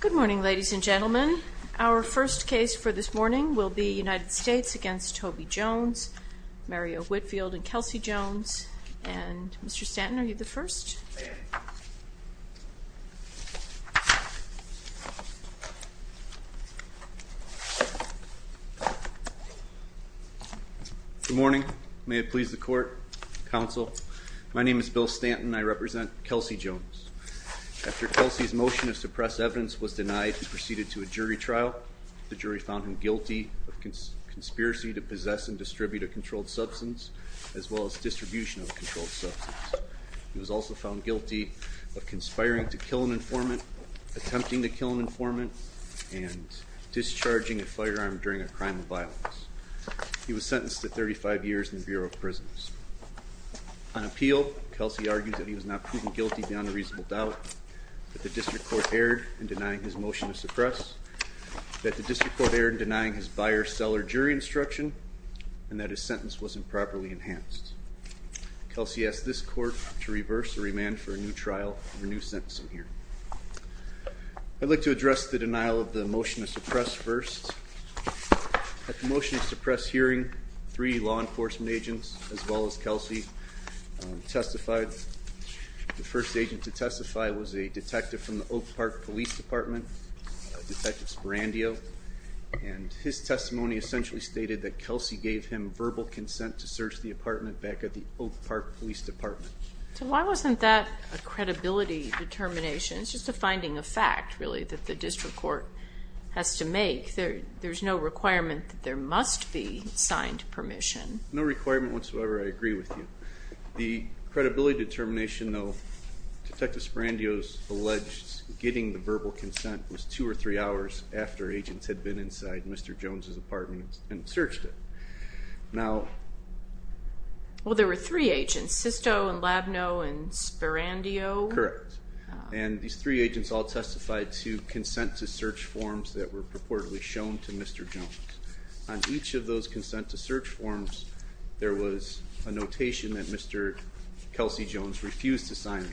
Good morning ladies and gentlemen. Our first case for this morning will be United States v. Toby Jones, Mario Whitfield v. Kelsey Jones. And Mr. Stanton, are you the first? I am. Good morning. May it please the court, counsel. My name is Bill Stanton. I represent Kelsey Jones. After Kelsey's motion to suppress evidence was denied, he proceeded to a jury trial. The jury found him guilty of conspiracy to possess and distribute a controlled substance, as well as distribution of a controlled substance. He was also found guilty of conspiring to kill an informant, attempting to kill an informant, and discharging a firearm during a crime of violence. He was sentenced to 35 years in the Bureau of Prisons. On appeal, Kelsey argued that he was not proven guilty beyond a reasonable doubt, that the district court erred in denying his motion to suppress, that the district court erred in denying his buyer-seller jury instruction, and that his sentence wasn't properly enhanced. Kelsey asked this court to reverse the remand for a new trial and a new sentencing hearing. I'd like to address the denial of the motion to suppress first. At the motion to suppress hearing, three law enforcement agents, as well as Kelsey, testified. The first agent to testify was a detective from the Oak Park Police Department, Detective Spirandio, and his testimony essentially stated that Kelsey gave him verbal consent to search the apartment back at the Oak Park Police Department. So why wasn't that a credibility determination? It's just a finding of fact, really, that the district court has to make. There's no requirement that there must be signed permission. No requirement whatsoever. I agree with you. The credibility determination, though, Detective Spirandio's alleged getting the verbal consent was two or three hours after agents had been inside Mr. Jones' apartment and searched it. Well, there were three agents, Sisto and Labneau and Spirandio. Correct. And these three agents all testified to consent-to-search forms that were purportedly shown to Mr. Jones. On each of those consent-to-search forms, there was a notation that Mr. Kelsey Jones refused to sign.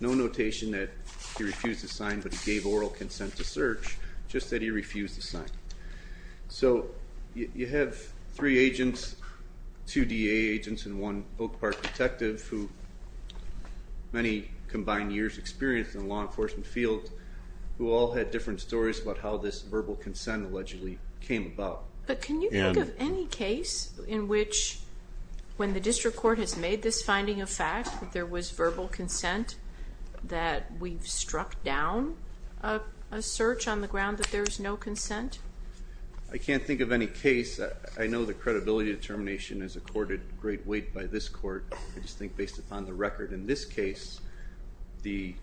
No notation that he refused to sign, but he gave oral consent to search, just that he refused to sign. So you have three agents, two DA agents and one Oak Park detective, who many combined years' experience in the law enforcement field, who all had different stories about how this verbal consent allegedly came about. But can you think of any case in which, when the district court has made this finding of fact, that there was verbal consent, that we've struck down a search on the ground, that there's no consent? I can't think of any case. I know the credibility determination is accorded great weight by this court. I just think, based upon the record in this case, the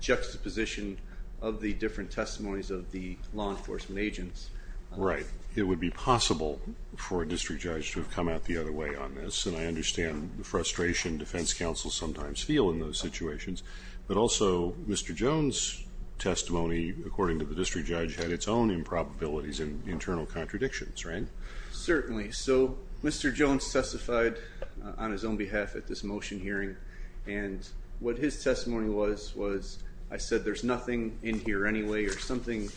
juxtaposition of the different testimonies of the law enforcement agents. Right. It would be possible for a district judge to have come out the other way on this, and I understand the frustration defense counsels sometimes feel in those situations. But also, Mr. Jones' testimony, according to the district judge, had its own improbabilities and internal contradictions, right? Certainly. So Mr. Jones testified on his own behalf at this motion hearing, and what his testimony was, was I said there's nothing in here anyway, or something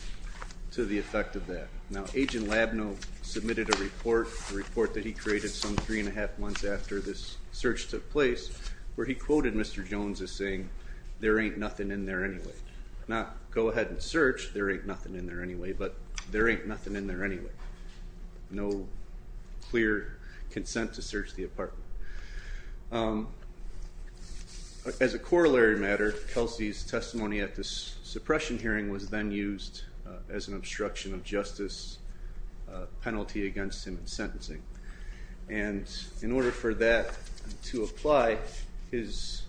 to the effect of that. Now, Agent Labneau submitted a report, a report that he created some three and a half months after this search took place, where he quoted Mr. Jones as saying, there ain't nothing in there anyway. Now, go ahead and search, there ain't nothing in there anyway, but there ain't nothing in there anyway. As a corollary matter, Kelsey's testimony at this suppression hearing was then used as an obstruction of justice penalty against him in sentencing. And in order for that to apply, his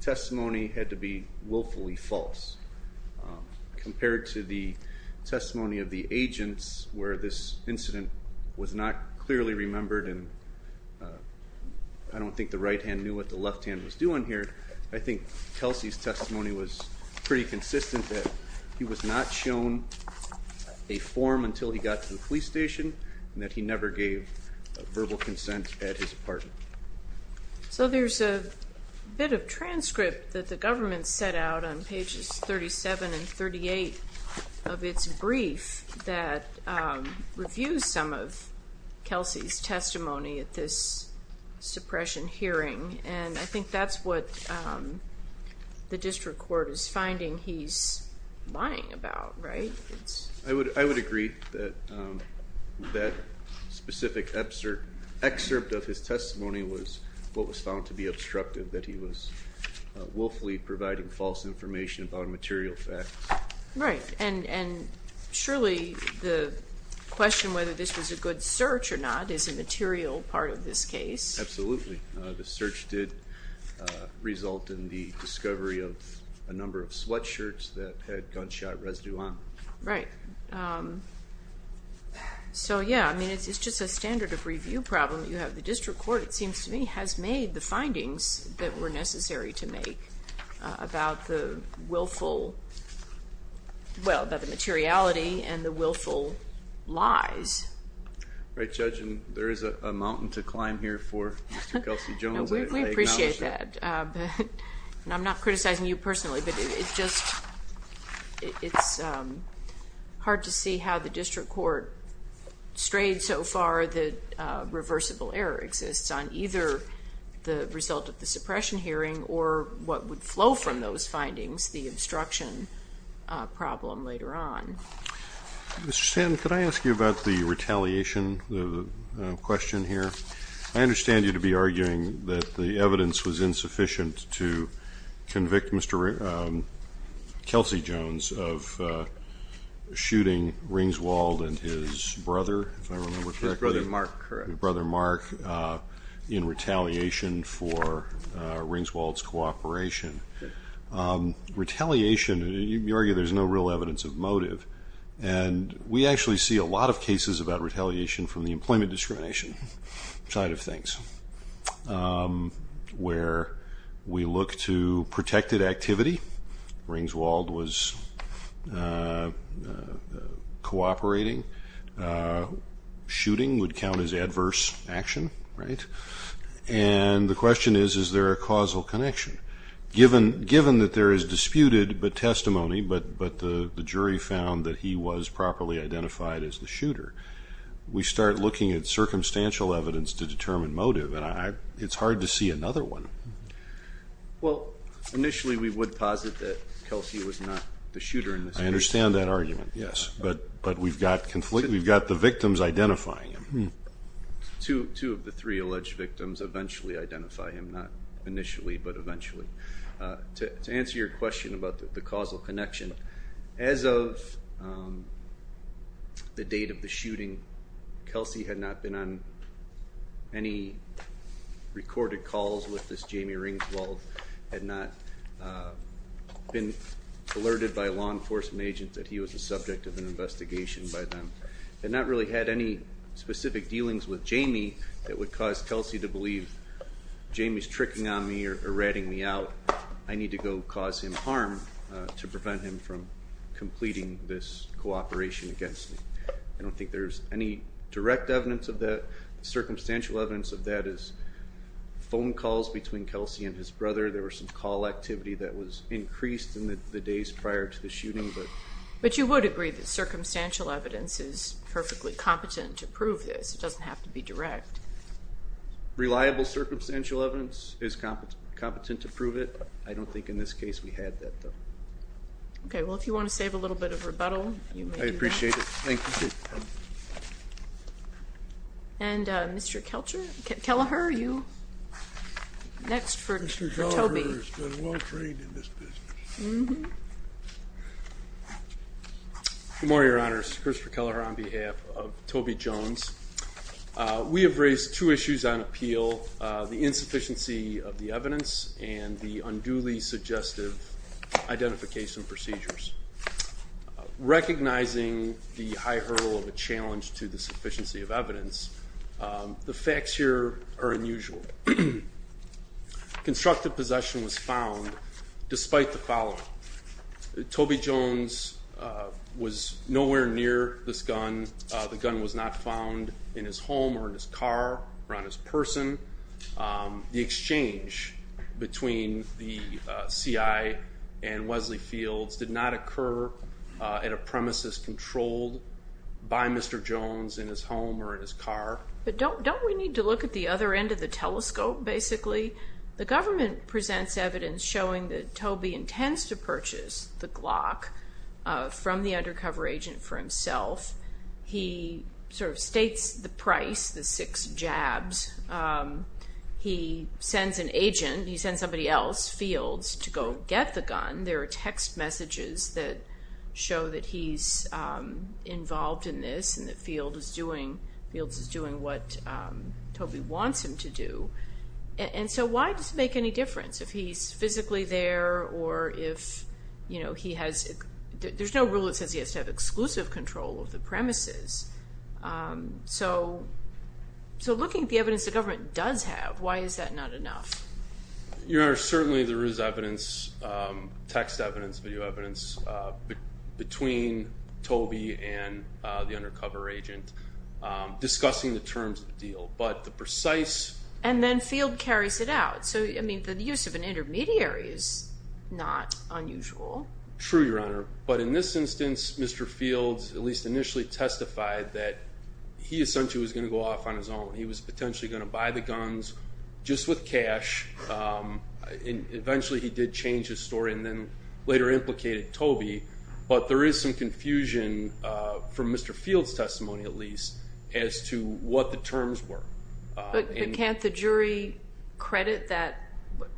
testimony had to be willfully false. Compared to the testimony of the agents, where this incident was not clearly remembered, and I don't think the right hand knew what the left hand was doing here, I think Kelsey's testimony was pretty consistent that he was not shown a form until he got to the police station, and that he never gave verbal consent at his apartment. So there's a bit of transcript that the government set out on pages 37 and 38 of its brief that reviews some of Kelsey's testimony at this suppression hearing, and I think that's what the district court is finding he's lying about, right? I would agree that that specific excerpt of his testimony was what was found to be obstructive, that he was willfully providing false information about material facts. Right, and surely the question whether this was a good search or not is a material part of this case. Absolutely. The search did result in the discovery of a number of sweatshirts that had gunshot residue on them. Right. So, yeah, I mean, it's just a standard of review problem that you have. The district court, it seems to me, has made the findings that were necessary to make about the willful, well, about the materiality and the willful lies. Right, Judge, and there is a mountain to climb here for Mr. Kelsey Jones. We appreciate that, and I'm not criticizing you personally, but it's just hard to see how the district court strayed so far that reversible error exists on either the result of the suppression hearing or what would flow from those findings, the obstruction problem later on. Mr. Stanton, could I ask you about the retaliation question here? I understand you to be arguing that the evidence was insufficient to convict Mr. Kelsey Jones of shooting Ringswald and his brother, if I remember correctly. His brother, Mark, correct. His brother, Mark, in retaliation for Ringswald's cooperation. Retaliation, you argue there's no real evidence of motive, and we actually see a lot of cases about retaliation from the employment discrimination side of things, where we look to protected activity. Ringswald was cooperating. Shooting would count as adverse action, right? And the question is, is there a causal connection? Given that there is disputed testimony, but the jury found that he was properly identified as the shooter, we start looking at circumstantial evidence to determine motive, and it's hard to see another one. Well, initially we would posit that Kelsey was not the shooter in this case. I understand that argument, yes, but we've got the victims identifying him. Two of the three alleged victims eventually identify him, not initially but eventually. To answer your question about the causal connection, as of the date of the shooting, Kelsey had not been on any recorded calls with this Jamie Ringswald, had not been alerted by law enforcement agents that he was the subject of an investigation by them, and not really had any specific dealings with Jamie that would cause Kelsey to believe, Jamie's tricking on me or ratting me out. I need to go cause him harm to prevent him from completing this cooperation against me. I don't think there's any direct evidence of that. Circumstantial evidence of that is phone calls between Kelsey and his brother. There was some call activity that was increased in the days prior to the shooting. But you would agree that circumstantial evidence is perfectly competent to prove this. It doesn't have to be direct. Reliable circumstantial evidence is competent to prove it. I don't think in this case we had that, though. Okay. Well, if you want to save a little bit of rebuttal, you may do that. I appreciate it. Thank you. And Mr. Kelleher, you're next for Toby. Good morning, Your Honors. Christopher Kelleher on behalf of Toby Jones. We have raised two issues on appeal, the insufficiency of the evidence and the unduly suggestive identification procedures. Recognizing the high hurdle of a challenge to the sufficiency of evidence, the facts here are unusual. Constructive possession was found despite the following. Toby Jones was nowhere near this gun. The gun was not found in his home or in his car or on his person. The exchange between the CI and Wesley Fields did not occur at a premises controlled by Mr. Jones in his home or in his car. But don't we need to look at the other end of the telescope, basically? The government presents evidence showing that Toby intends to purchase the Glock from the undercover agent for himself. He sort of states the price, the six jabs. He sends an agent, he sends somebody else, Fields, to go get the gun. There are text messages that show that he's involved in this and that Fields is doing what Toby wants him to do. And so why does it make any difference if he's physically there or if he has, there's no rule that says he has to have exclusive control of the premises. So looking at the evidence the government does have, why is that not enough? Your Honor, certainly there is evidence, text evidence, video evidence, between Toby and the undercover agent discussing the terms of the deal. But the precise- And then Fields carries it out. So, I mean, the use of an intermediary is not unusual. True, Your Honor. But in this instance, Mr. Fields, at least initially, testified that he essentially was going to go off on his own. He was potentially going to buy the guns just with cash. Eventually he did change his story and then later implicated Toby. But there is some confusion, from Mr. Fields' testimony at least, as to what the terms were. But can't the jury credit that,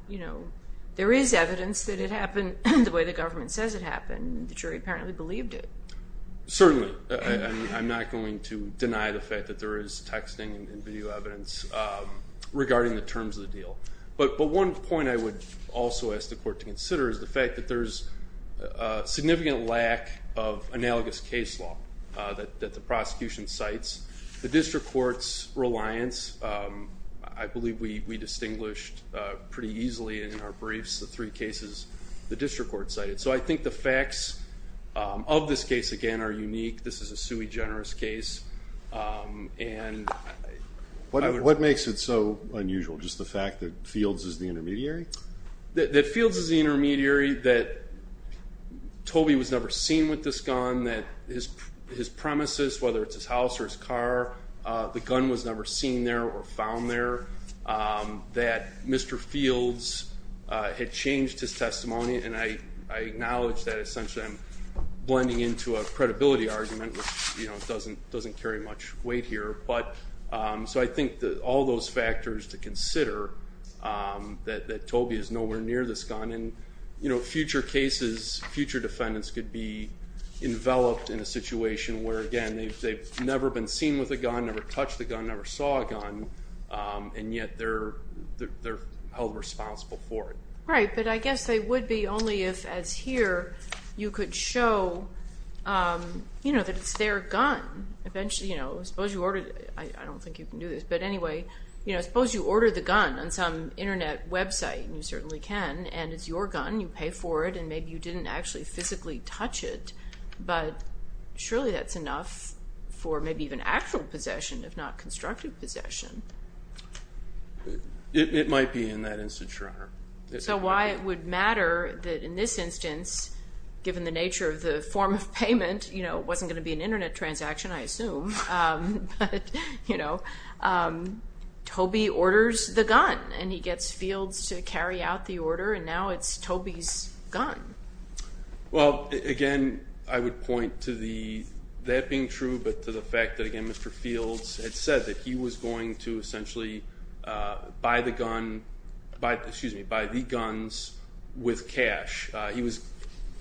you know, there is evidence that it happened the way the government says it happened. The jury apparently believed it. Certainly. I'm not going to deny the fact that there is texting and video evidence regarding the terms of the deal. But one point I would also ask the court to consider is the fact that there is a significant lack of analogous case law that the prosecution cites. The district court's reliance, I believe we distinguished pretty easily in our briefs the three cases the district court cited. So I think the facts of this case, again, are unique. This is a sui generis case. What makes it so unusual, just the fact that Fields is the intermediary? That Fields is the intermediary, that Toby was never seen with this gun, that his premises, whether it's his house or his car, the gun was never seen there or found there, that Mr. Fields had changed his testimony. And I acknowledge that essentially I'm blending into a credibility argument, which doesn't carry much weight here. So I think all those factors to consider, that Toby is nowhere near this gun, and future cases, future defendants could be enveloped in a situation where, again, they've never been seen with a gun, never touched a gun, never saw a gun, and yet they're held responsible for it. Right, but I guess they would be only if, as here, you could show that it's their gun. I don't think you can do this, but anyway, suppose you order the gun on some Internet website, and you certainly can, and it's your gun, you pay for it, and maybe you didn't actually physically touch it, but surely that's enough for maybe even actual possession, It might be in that instance, Your Honor. So why it would matter that in this instance, given the nature of the form of payment, it wasn't going to be an Internet transaction, I assume, but Toby orders the gun, and he gets Fields to carry out the order, and now it's Toby's gun. Well, again, I would point to that being true, but to the fact that, again, Mr. Fields had said that he was going to buy the guns with cash.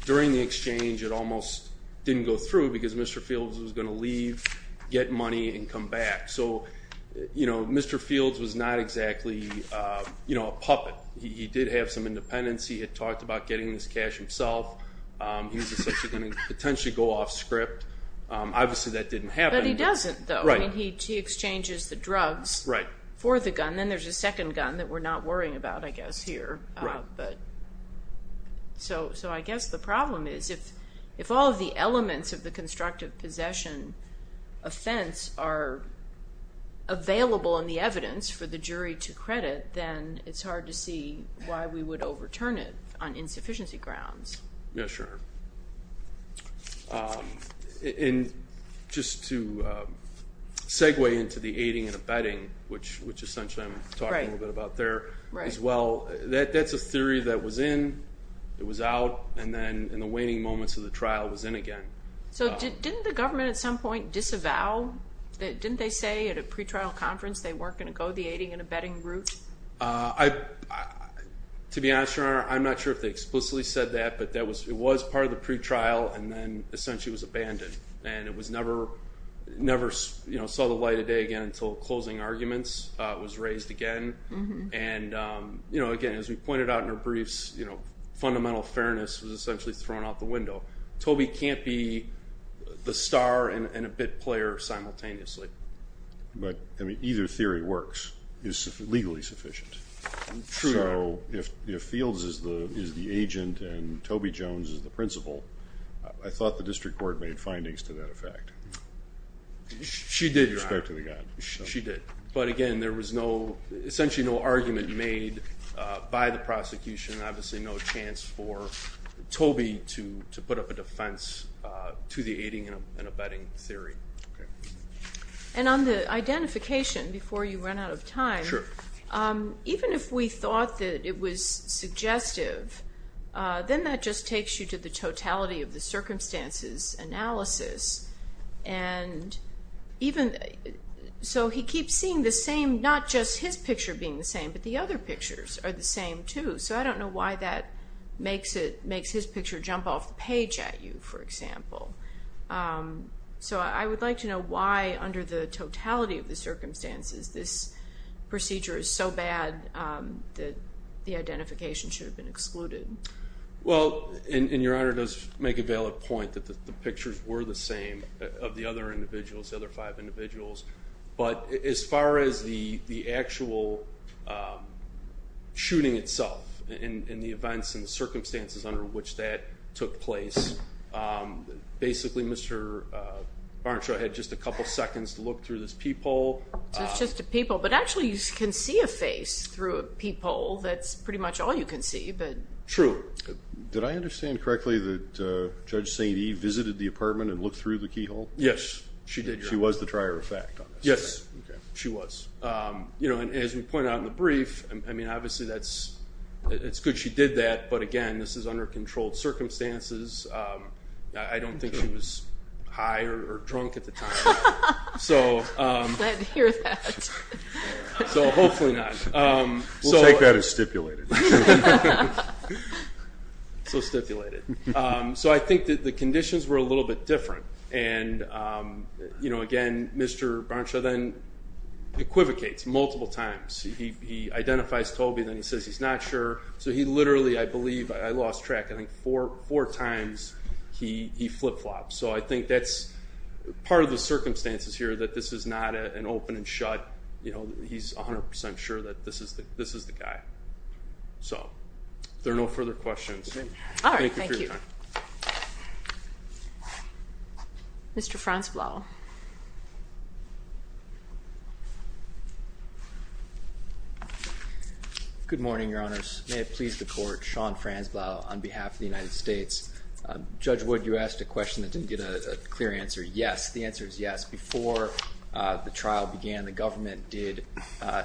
During the exchange, it almost didn't go through, because Mr. Fields was going to leave, get money, and come back. So Mr. Fields was not exactly a puppet. He did have some independence. He had talked about getting this cash himself. He was essentially going to potentially go off script. Obviously, that didn't happen. But he doesn't, though. Right. He exchanges the drugs for the gun. And then there's a second gun that we're not worrying about, I guess, here. Right. So I guess the problem is if all of the elements of the constructive possession offense are available in the evidence for the jury to credit, then it's hard to see why we would overturn it on insufficiency grounds. Yeah, sure. And just to segue into the aiding and abetting, which essentially I'm talking a little bit about there as well, that's a theory that was in, it was out, and then in the waning moments of the trial, it was in again. So didn't the government at some point disavow? Didn't they say at a pretrial conference they weren't going to go the aiding and abetting route? To be honest, Your Honor, I'm not sure if they explicitly said that, but it was part of the pretrial and then essentially was abandoned. And it never saw the light of day again until closing arguments was raised again. And, again, as we pointed out in our briefs, fundamental fairness was essentially thrown out the window. Toby can't be the star and a bit player simultaneously. But either theory works, is legally sufficient. True. So if Fields is the agent and Toby Jones is the principal, I thought the district court made findings to that effect. She did, Your Honor. With respect to the guy. She did. But, again, there was no, essentially no argument made by the prosecution, obviously no chance for Toby to put up a defense to the aiding and abetting theory. And on the identification, before you run out of time, even if we thought that it was suggestive, then that just takes you to the totality of the circumstances analysis. And so he keeps seeing the same, not just his picture being the same, but the other pictures are the same, too. So I don't know why that makes his picture jump off the page at you, for example. So I would like to know why, under the totality of the circumstances, this procedure is so bad that the identification should have been excluded. Well, and Your Honor does make a valid point that the pictures were the same of the other individuals, the other five individuals. But as far as the actual shooting itself and the events and the circumstances under which that took place, basically Mr. Barnshaw had just a couple seconds to look through this peephole. So it's just a peephole. But actually you can see a face through a peephole. That's pretty much all you can see. True. Did I understand correctly that Judge St. Eve visited the apartment and looked through the keyhole? Yes, she did. She was the trier of fact on this. Yes, she was. And as we point out in the brief, I mean, obviously it's good she did that. But, again, this is under controlled circumstances. I don't think she was high or drunk at the time. Glad to hear that. So hopefully not. We'll take that as stipulated. So stipulated. So I think that the conditions were a little bit different. And, again, Mr. Barnshaw then equivocates multiple times. He identifies Toby, then he says he's not sure. So he literally, I believe, I lost track, I think four times he flip-flops. So I think that's part of the circumstances here, that this is not an open and shut, he's 100% sure that this is the guy. So if there are no further questions, thank you for your time. All right, thank you. Mr. Franzblau. Good morning, Your Honors. May it please the Court, Sean Franzblau on behalf of the United States. Judge Wood, you asked a question that didn't get a clear answer. Yes, the answer is yes. Before the trial began, the government did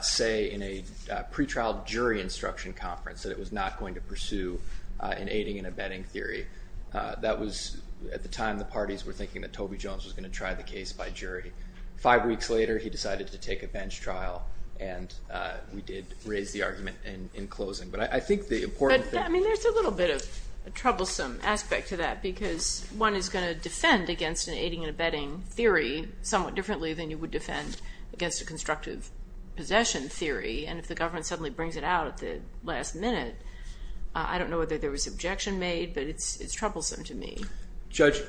say in a pretrial jury instruction conference that it was not going to pursue an aiding and abetting theory. That was at the time the parties were thinking that Toby Jones was going to try the case by jury. Five weeks later, he decided to take a bench trial, and we did raise the argument in closing. But I think the important thing I mean, there's a little bit of a troublesome aspect to that because one is going to defend against an aiding and abetting theory somewhat differently than you would defend against a constructive possession theory. And if the government suddenly brings it out at the last minute, I don't know whether there was objection made, but it's troublesome to me. Judge,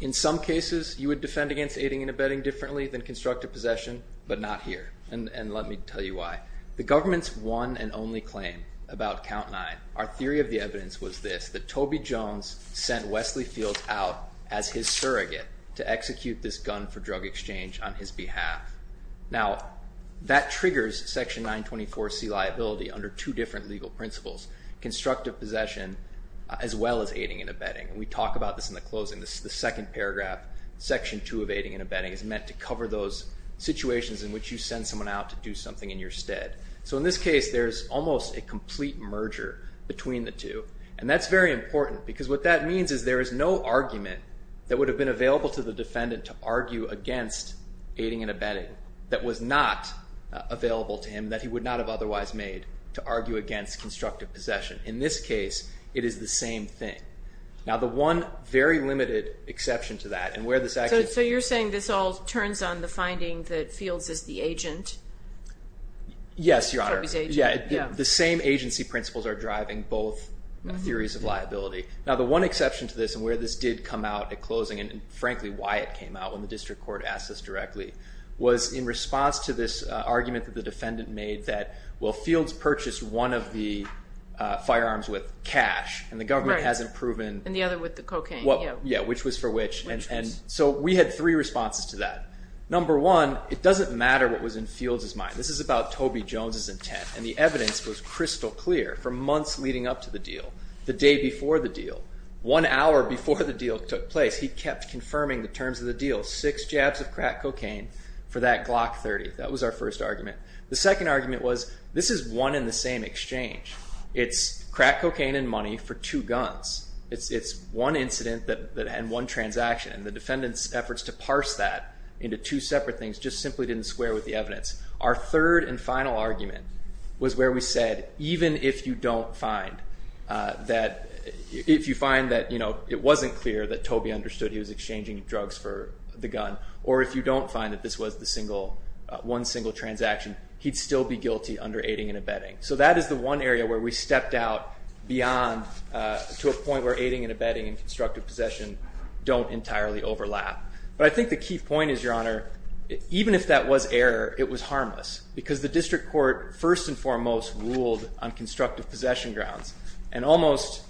in some cases, you would defend against aiding and abetting differently than constructive possession, but not here, and let me tell you why. The government's one and only claim about Count 9, our theory of the evidence was this, that Toby Jones sent Wesley Fields out as his surrogate to execute this gun for drug exchange on his behalf. Now, that triggers Section 924C liability under two different legal principles, constructive possession as well as aiding and abetting. And we talk about this in the closing. The second paragraph, Section 2 of aiding and abetting, is meant to cover those situations in which you send someone out to do something in your stead. So in this case, there's almost a complete merger between the two, and that's very important because what that means is there is no argument that would have been available to the defendant to argue against aiding and abetting that was not available to him that he would not have otherwise made to argue against constructive possession. In this case, it is the same thing. Now, the one very limited exception to that and where this actually… Yes, Your Honor. The same agency principles are driving both theories of liability. Now, the one exception to this and where this did come out at closing and, frankly, why it came out when the district court asked us directly, was in response to this argument that the defendant made that, well, Fields purchased one of the firearms with cash and the government hasn't proven… And the other with the cocaine. Yeah, which was for which. So we had three responses to that. Number one, it doesn't matter what was in Fields' mind. This is about Toby Jones' intent, and the evidence was crystal clear for months leading up to the deal. The day before the deal, one hour before the deal took place, he kept confirming the terms of the deal, six jabs of crack cocaine for that Glock 30. That was our first argument. The second argument was this is one and the same exchange. It's crack cocaine and money for two guns. It's one incident and one transaction, and the defendant's efforts to parse that into two separate things just simply didn't square with the evidence. Our third and final argument was where we said even if you don't find that, if you find that it wasn't clear that Toby understood he was exchanging drugs for the gun, or if you don't find that this was one single transaction, he'd still be guilty under aiding and abetting. So that is the one area where we stepped out beyond to a point where aiding and abetting and constructive possession don't entirely overlap. But I think the key point is, Your Honor, even if that was error, it was harmless, because the district court first and foremost ruled on constructive possession grounds, and almost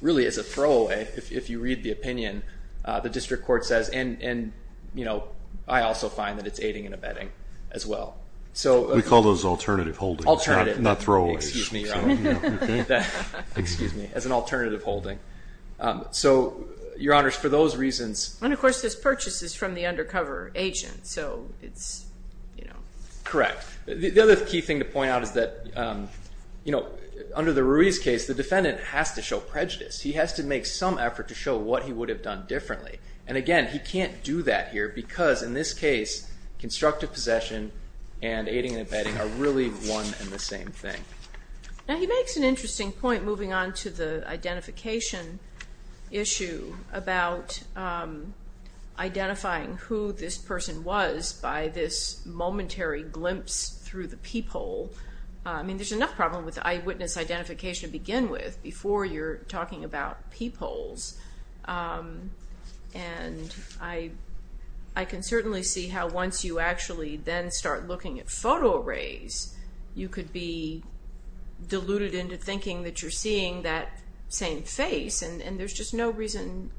really as a throwaway, if you read the opinion, the district court says, and I also find that it's aiding and abetting as well. We call those alternative holdings, not throwaways. Excuse me, Your Honor. Excuse me. As an alternative holding. So, Your Honors, for those reasons. And, of course, this purchase is from the undercover agent, so it's, you know. Correct. The other key thing to point out is that, you know, under the Ruiz case, the defendant has to show prejudice. He has to make some effort to show what he would have done differently. And, again, he can't do that here because, in this case, constructive possession and aiding and abetting are really one and the same thing. Now, he makes an interesting point moving on to the identification issue about identifying who this person was by this momentary glimpse through the peephole. I mean, there's enough problem with eyewitness identification to begin with before you're talking about peepholes. And I can certainly see how once you actually then start looking at photo arrays, you could be deluded into thinking that you're seeing that same face, and there's just no reason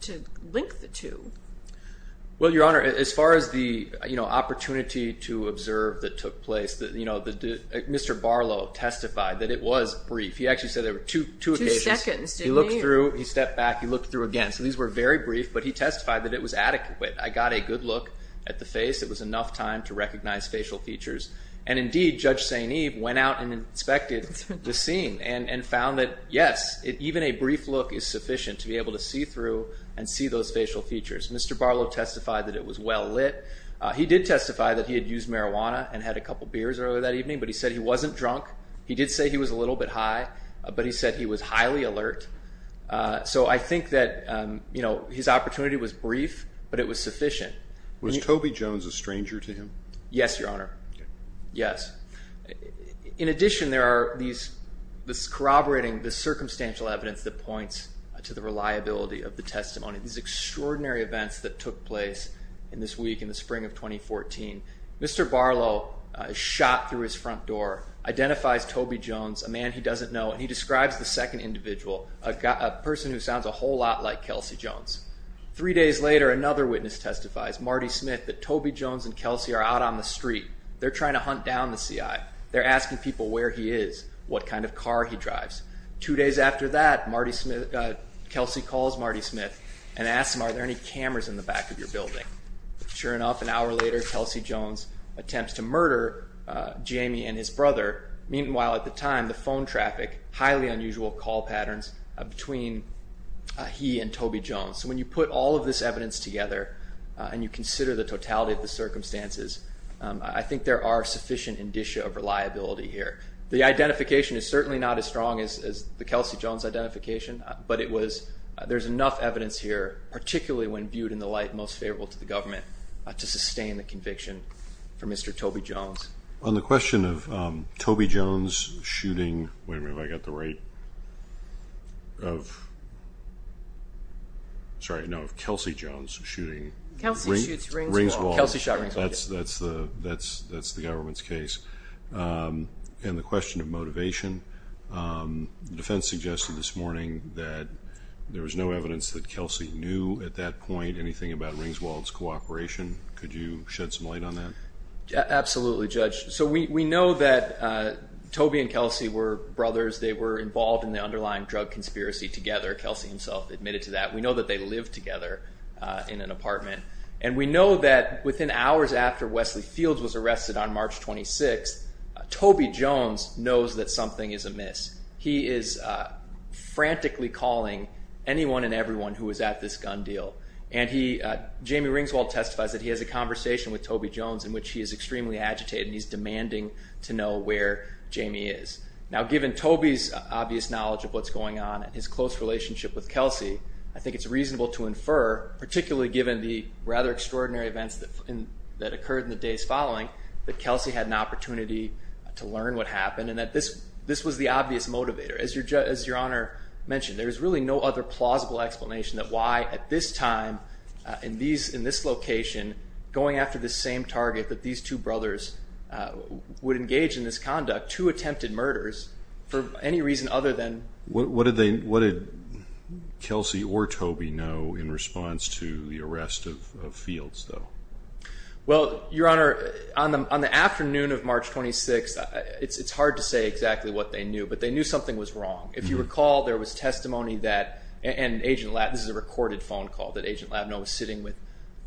to link the two. Well, Your Honor, as far as the opportunity to observe that took place, Mr. Barlow testified that it was brief. He actually said there were two occasions. Two seconds, didn't he? He looked through. He stepped back. He looked through again. So these were very brief, but he testified that it was adequate. I got a good look at the face. It was enough time to recognize facial features. And, indeed, Judge St. Eve went out and inspected the scene and found that, yes, even a brief look is sufficient to be able to see through and see those facial features. Mr. Barlow testified that it was well lit. He did testify that he had used marijuana and had a couple beers earlier that evening, but he said he wasn't drunk. He did say he was a little bit high, but he said he was highly alert. So I think that his opportunity was brief, but it was sufficient. Was Toby Jones a stranger to him? Yes, Your Honor. Okay. Yes. In addition, there are these corroborating the circumstantial evidence that points to the reliability of the testimony, these extraordinary events that took place in this week in the spring of 2014. Mr. Barlow shot through his front door, identifies Toby Jones, a man he doesn't know, and he describes the second individual, a person who sounds a whole lot like Kelsey Jones. Three days later, another witness testifies, Marty Smith, that Toby Jones and Kelsey are out on the street. They're trying to hunt down the CI. They're asking people where he is, what kind of car he drives. Two days after that, Kelsey calls Marty Smith and asks him, are there any cameras in the back of your building? Sure enough, an hour later, Kelsey Jones attempts to murder Jamie and his brother. Meanwhile, at the time, the phone traffic, highly unusual call patterns between he and Toby Jones. When you put all of this evidence together and you consider the totality of the circumstances, I think there are sufficient indicia of reliability here. The identification is certainly not as strong as the Kelsey Jones identification, but there's enough evidence here, particularly when viewed in the light most favorable to the government, to sustain the conviction for Mr. Toby Jones. On the question of Toby Jones shooting – wait a minute, have I got the right – of – sorry, no, of Kelsey Jones shooting – Kelsey shoots Ringswald. Ringswald. Kelsey shot Ringswald, yes. That's the government's case. And the question of motivation, the defense suggested this morning that there was no evidence that Kelsey knew at that point anything about Ringswald's cooperation. Could you shed some light on that? Absolutely, Judge. So we know that Toby and Kelsey were brothers. They were involved in the underlying drug conspiracy together. Kelsey himself admitted to that. We know that they lived together in an apartment. And we know that within hours after Wesley Fields was arrested on March 26, Toby Jones knows that something is amiss. He is frantically calling anyone and everyone who was at this gun deal. And he – Jamie Ringswald testifies that he has a conversation with Toby Jones in which he is extremely agitated and he's demanding to know where Jamie is. Now, given Toby's obvious knowledge of what's going on and his close relationship with Kelsey, I think it's reasonable to infer, particularly given the rather extraordinary events that occurred in the days following, that Kelsey had an opportunity to learn what happened and that this was the obvious motivator. As Your Honor mentioned, there is really no other plausible explanation that why at this time, in this location, going after the same target that these two brothers would engage in this conduct, two attempted murders, for any reason other than – What did Kelsey or Toby know in response to the arrest of Fields, though? Well, Your Honor, on the afternoon of March 26, it's hard to say exactly what they knew, but they knew something was wrong. If you recall, there was testimony that – and Agent Labno – this is a recorded phone call that Agent Labno was sitting with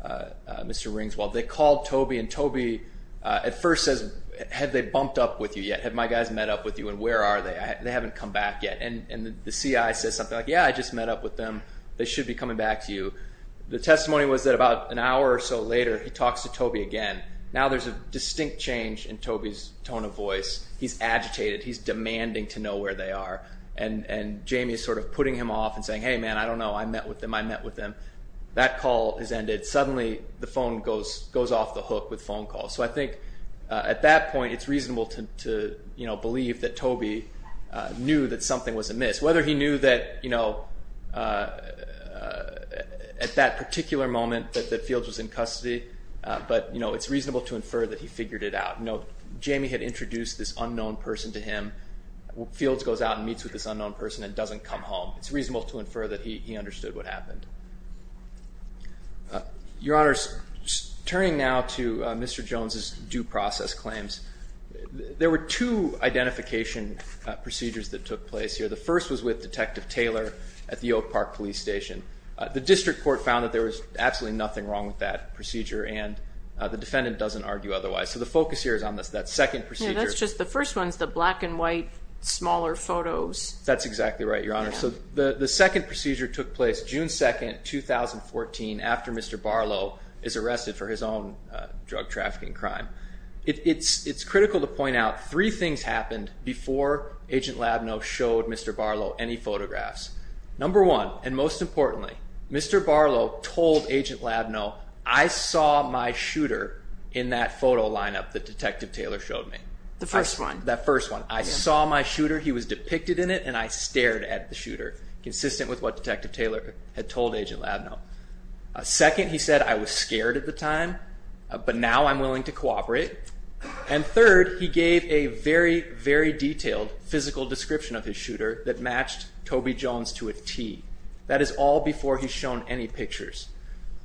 Mr. Ringswald. They called Toby, and Toby at first says, have they bumped up with you yet? Have my guys met up with you? And where are they? They haven't come back yet. And the CI says something like, yeah, I just met up with them. They should be coming back to you. The testimony was that about an hour or so later, he talks to Toby again. Now there's a distinct change in Toby's tone of voice. He's agitated. He's demanding to know where they are. And Jamie is sort of putting him off and saying, hey, man, I don't know. I met with them. I met with them. That call is ended. Suddenly the phone goes off the hook with phone calls. So I think at that point it's reasonable to believe that Toby knew that something was amiss, whether he knew that at that particular moment that Fields was in custody, but it's reasonable to infer that he figured it out. Note, Jamie had introduced this unknown person to him. Fields goes out and meets with this unknown person and doesn't come home. It's reasonable to infer that he understood what happened. Your Honors, turning now to Mr. Jones's due process claims, there were two identification procedures that took place here. The first was with Detective Taylor at the Oak Park Police Station. The district court found that there was absolutely nothing wrong with that procedure, and the defendant doesn't argue otherwise. So the focus here is on that second procedure. That's just the first one is the black and white smaller photos. That's exactly right, Your Honor. So the second procedure took place June 2, 2014, after Mr. Barlow is arrested for his own drug trafficking crime. It's critical to point out three things happened before Agent Labnow showed Mr. Barlow any photographs. Number one, and most importantly, Mr. Barlow told Agent Labnow, I saw my shooter in that photo lineup that Detective Taylor showed me. The first one. That first one. I saw my shooter. He was depicted in it, and I stared at the shooter, consistent with what Detective Taylor had told Agent Labnow. Second, he said, I was scared at the time, but now I'm willing to cooperate. And third, he gave a very, very detailed physical description of his shooter that matched Toby Jones to a T. That is all before he's shown any pictures.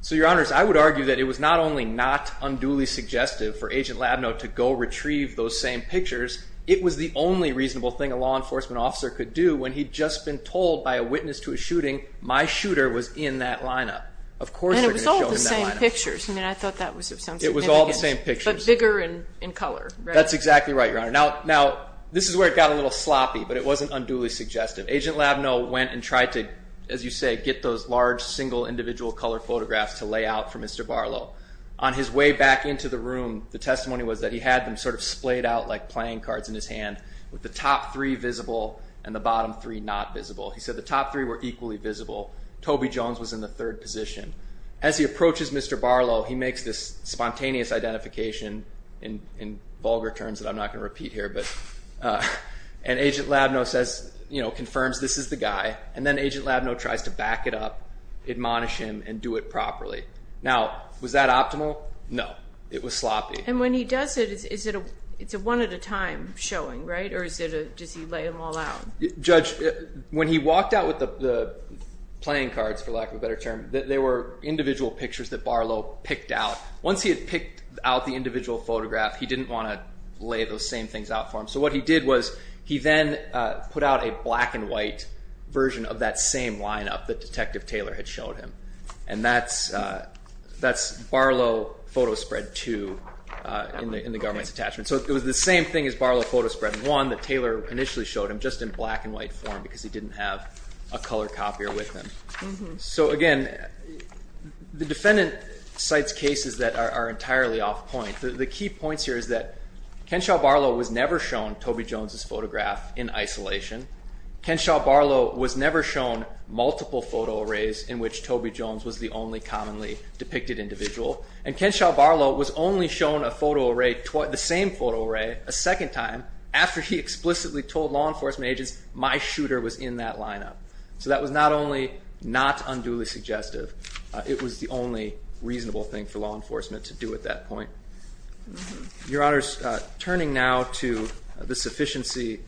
So, Your Honors, I would argue that it was not only not unduly suggestive for Agent Labnow to go retrieve those same pictures, it was the only reasonable thing a law enforcement officer could do when he'd just been told by a witness to a shooting, my shooter was in that lineup. And it was all the same pictures. I mean, I thought that was of some significance. It was all the same pictures. But bigger in color. That's exactly right, Your Honor. Now, this is where it got a little sloppy, but it wasn't unduly suggestive. Agent Labnow went and tried to, as you say, get those large, single, individual color photographs to lay out for Mr. Barlow. On his way back into the room, the testimony was that he had them sort of splayed out like playing cards in his hand, with the top three visible and the bottom three not visible. He said the top three were equally visible. Toby Jones was in the third position. As he approaches Mr. Barlow, he makes this spontaneous identification in vulgar terms that I'm not going to repeat here, and Agent Labnow confirms this is the guy. And then Agent Labnow tries to back it up, admonish him, and do it properly. Now, was that optimal? No. It was sloppy. And when he does it, it's a one-at-a-time showing, right? Or does he lay them all out? Judge, when he walked out with the playing cards, for lack of a better term, they were individual pictures that Barlow picked out. Once he had picked out the individual photograph, he didn't want to lay those same things out for him. So what he did was he then put out a black-and-white version of that same lineup that Detective Taylor had showed him, and that's Barlow Photo Spread 2 in the government's attachment. So it was the same thing as Barlow Photo Spread 1 that Taylor initially showed him, just in black-and-white form because he didn't have a color copier with him. So again, the defendant cites cases that are entirely off-point. The key points here is that Kenshaw Barlow was never shown Toby Jones's photograph in isolation. Kenshaw Barlow was never shown multiple photo arrays in which Toby Jones was the only commonly depicted individual. And Kenshaw Barlow was only shown a photo array, the same photo array, a second time after he explicitly told law enforcement agents, my shooter was in that lineup. So that was not only not unduly suggestive, it was the only reasonable thing for law enforcement to do at that point. Your Honors, turning now to the sufficiency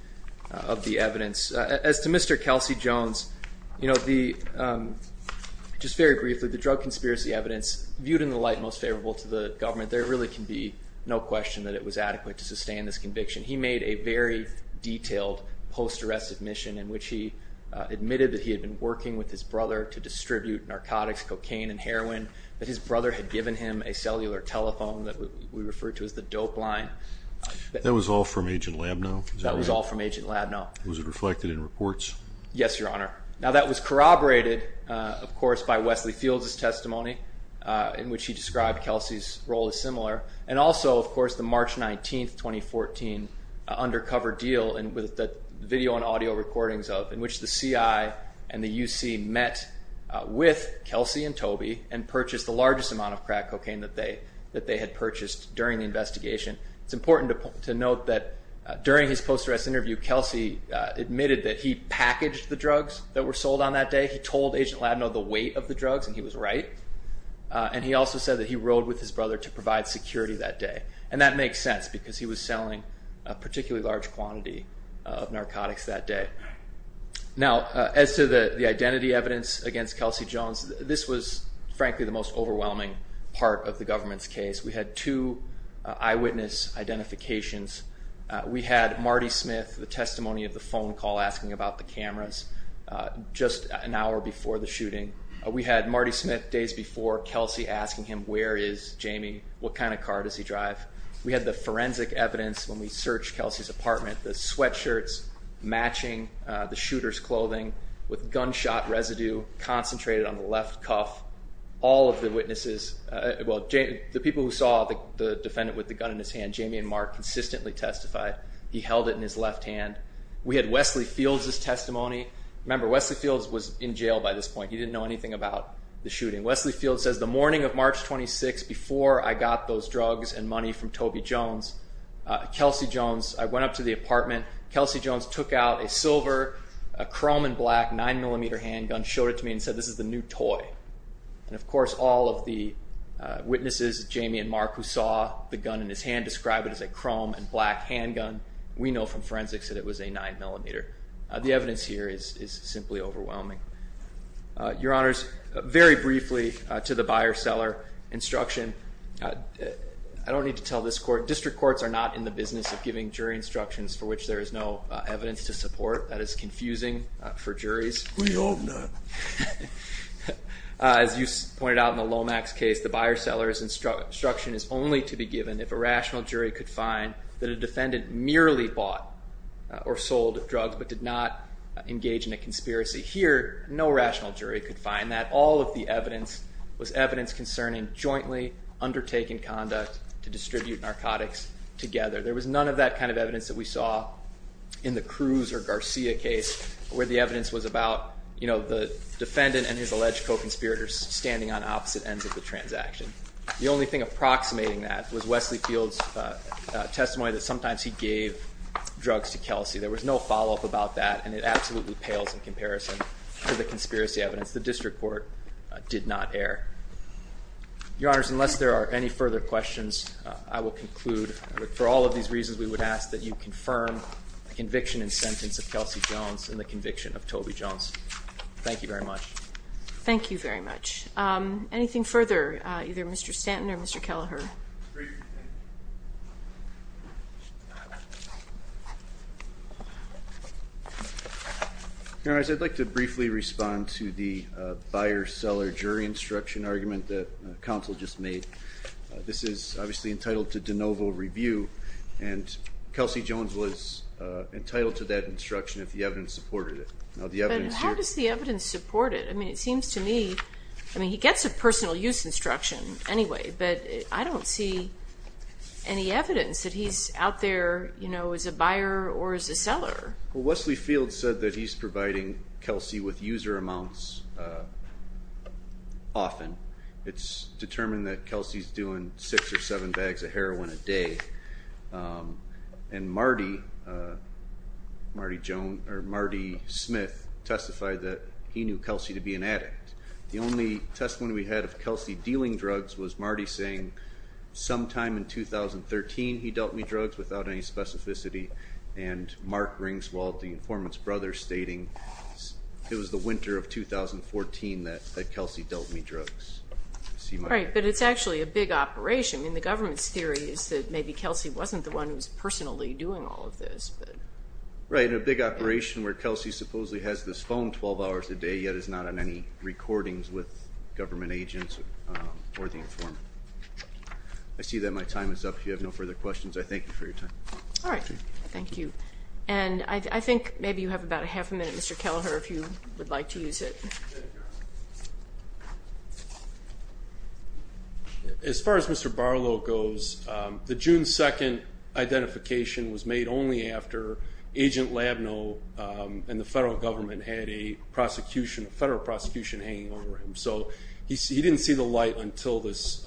of the evidence, as to Mr. Kelsey Jones, just very briefly, the drug conspiracy evidence viewed in the light most favorable to the government, there really can be no question that it was adequate to sustain this conviction. He made a very detailed post-arrest admission in which he admitted that he had been working with his brother to distribute narcotics, cocaine, and heroin, that his brother had given him a cellular telephone that we refer to as the dope line. That was all from Agent Labnow? That was all from Agent Labnow. Was it reflected in reports? Yes, Your Honor. Now that was corroborated, of course, by Wesley Fields' testimony in which he described Kelsey's role as similar. And also, of course, the March 19, 2014, undercover deal with the video and audio recordings of, in which the CI and the UC met with Kelsey and Toby and purchased the largest amount of crack cocaine that they had purchased during the investigation. It's important to note that during his post-arrest interview, Kelsey admitted that he packaged the drugs that were sold on that day. He told Agent Labnow the weight of the drugs, and he was right. And he also said that he rode with his brother to provide security that day. And that makes sense because he was selling a particularly large quantity of narcotics that day. Now, as to the identity evidence against Kelsey Jones, this was, frankly, the most overwhelming part of the government's case. We had two eyewitness identifications. We had Marty Smith, the testimony of the phone call asking about the cameras, just an hour before the shooting. We had Marty Smith days before Kelsey asking him, where is Jamie, what kind of car does he drive? We had the forensic evidence when we searched Kelsey's apartment, the sweatshirts matching the shooter's clothing with gunshot residue concentrated on the left cuff. All of the witnesses, well, the people who saw the defendant with the gun in his hand, Jamie and Mark consistently testified. He held it in his left hand. We had Wesley Fields' testimony. Remember, Wesley Fields was in jail by this point. He didn't know anything about the shooting. Wesley Fields says, the morning of March 26th, before I got those drugs and money from Toby Jones, Kelsey Jones, I went up to the apartment. Kelsey Jones took out a silver, a chrome and black 9mm handgun, showed it to me and said, this is the new toy. And, of course, all of the witnesses, Jamie and Mark, who saw the gun in his hand described it as a chrome and black handgun. We know from forensics that it was a 9mm. The evidence here is simply overwhelming. Your Honors, very briefly to the buyer-seller instruction. I don't need to tell this court. District courts are not in the business of giving jury instructions for which there is no evidence to support. That is confusing for juries. We hope not. As you pointed out in the Lomax case, the buyer-seller's instruction is only to be given if a rational jury could find that a defendant merely bought or sold drugs but did not engage in a conspiracy. Here, no rational jury could find that. All of the evidence was evidence concerning jointly undertaking conduct to distribute narcotics together. There was none of that kind of evidence that we saw in the Cruz or Garcia case where the evidence was about the defendant and his alleged co-conspirators standing on opposite ends of the transaction. The only thing approximating that was Wesley Field's testimony that sometimes he gave drugs to Kelsey. There was no follow-up about that, and it absolutely pales in comparison to the conspiracy evidence. The district court did not err. Your Honors, unless there are any further questions, I will conclude. For all of these reasons, we would ask that you confirm the conviction and sentence of Kelsey Jones and the conviction of Toby Jones. Thank you very much. Thank you very much. Anything further, either Mr. Stanton or Mr. Kelleher? Your Honors, I'd like to briefly respond to the buyer-seller jury instruction argument that counsel just made. This is obviously entitled to de novo review, and Kelsey Jones was entitled to that instruction if the evidence supported it. How does the evidence support it? I mean, it seems to me, I mean, he gets a personal use instruction anyway, but I don't see any evidence that he's out there as a buyer or as a seller. Wesley Field said that he's providing Kelsey with user amounts often. It's determined that Kelsey's doing six or seven bags of heroin a day, and Marty Smith testified that he knew Kelsey to be an addict. The only testimony we had of Kelsey dealing drugs was Marty saying sometime in 2013 he dealt me drugs without any specificity, and Mark Ringswald, the informant's brother, stating it was the winter of 2014 that Kelsey dealt me drugs. Right, but it's actually a big operation. I mean, the government's theory is that maybe Kelsey wasn't the one who was personally doing all of this. Right, and a big operation where Kelsey supposedly has this phone 12 hours a day yet is not on any recordings with government agents or the informant. I see that my time is up. If you have no further questions, I thank you for your time. All right. Thank you. And I think maybe you have about a half a minute, Mr. Kelleher, if you would like to use it. As far as Mr. Barlow goes, the June 2nd identification was made only after Agent Labneau and the federal government had a federal prosecution hanging over him. So he didn't see the light until this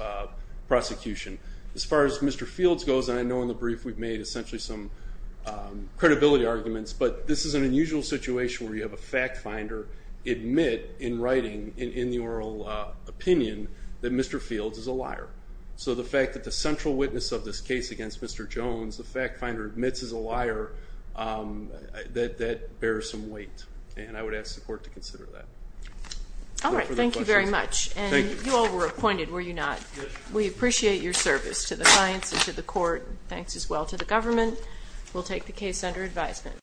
prosecution. As far as Mr. Fields goes, and I know in the brief we've made essentially some credibility arguments, but this is an unusual situation where you have a fact finder admit in writing, in the oral opinion, that Mr. Fields is a liar. So the fact that the central witness of this case against Mr. Jones, the fact finder, admits he's a liar, that bears some weight. And I would ask the court to consider that. All right. Thank you very much. And you all were appointed, were you not? Yes. We appreciate your service to the clients and to the court. Thanks as well to the government. We'll take the case under advisement.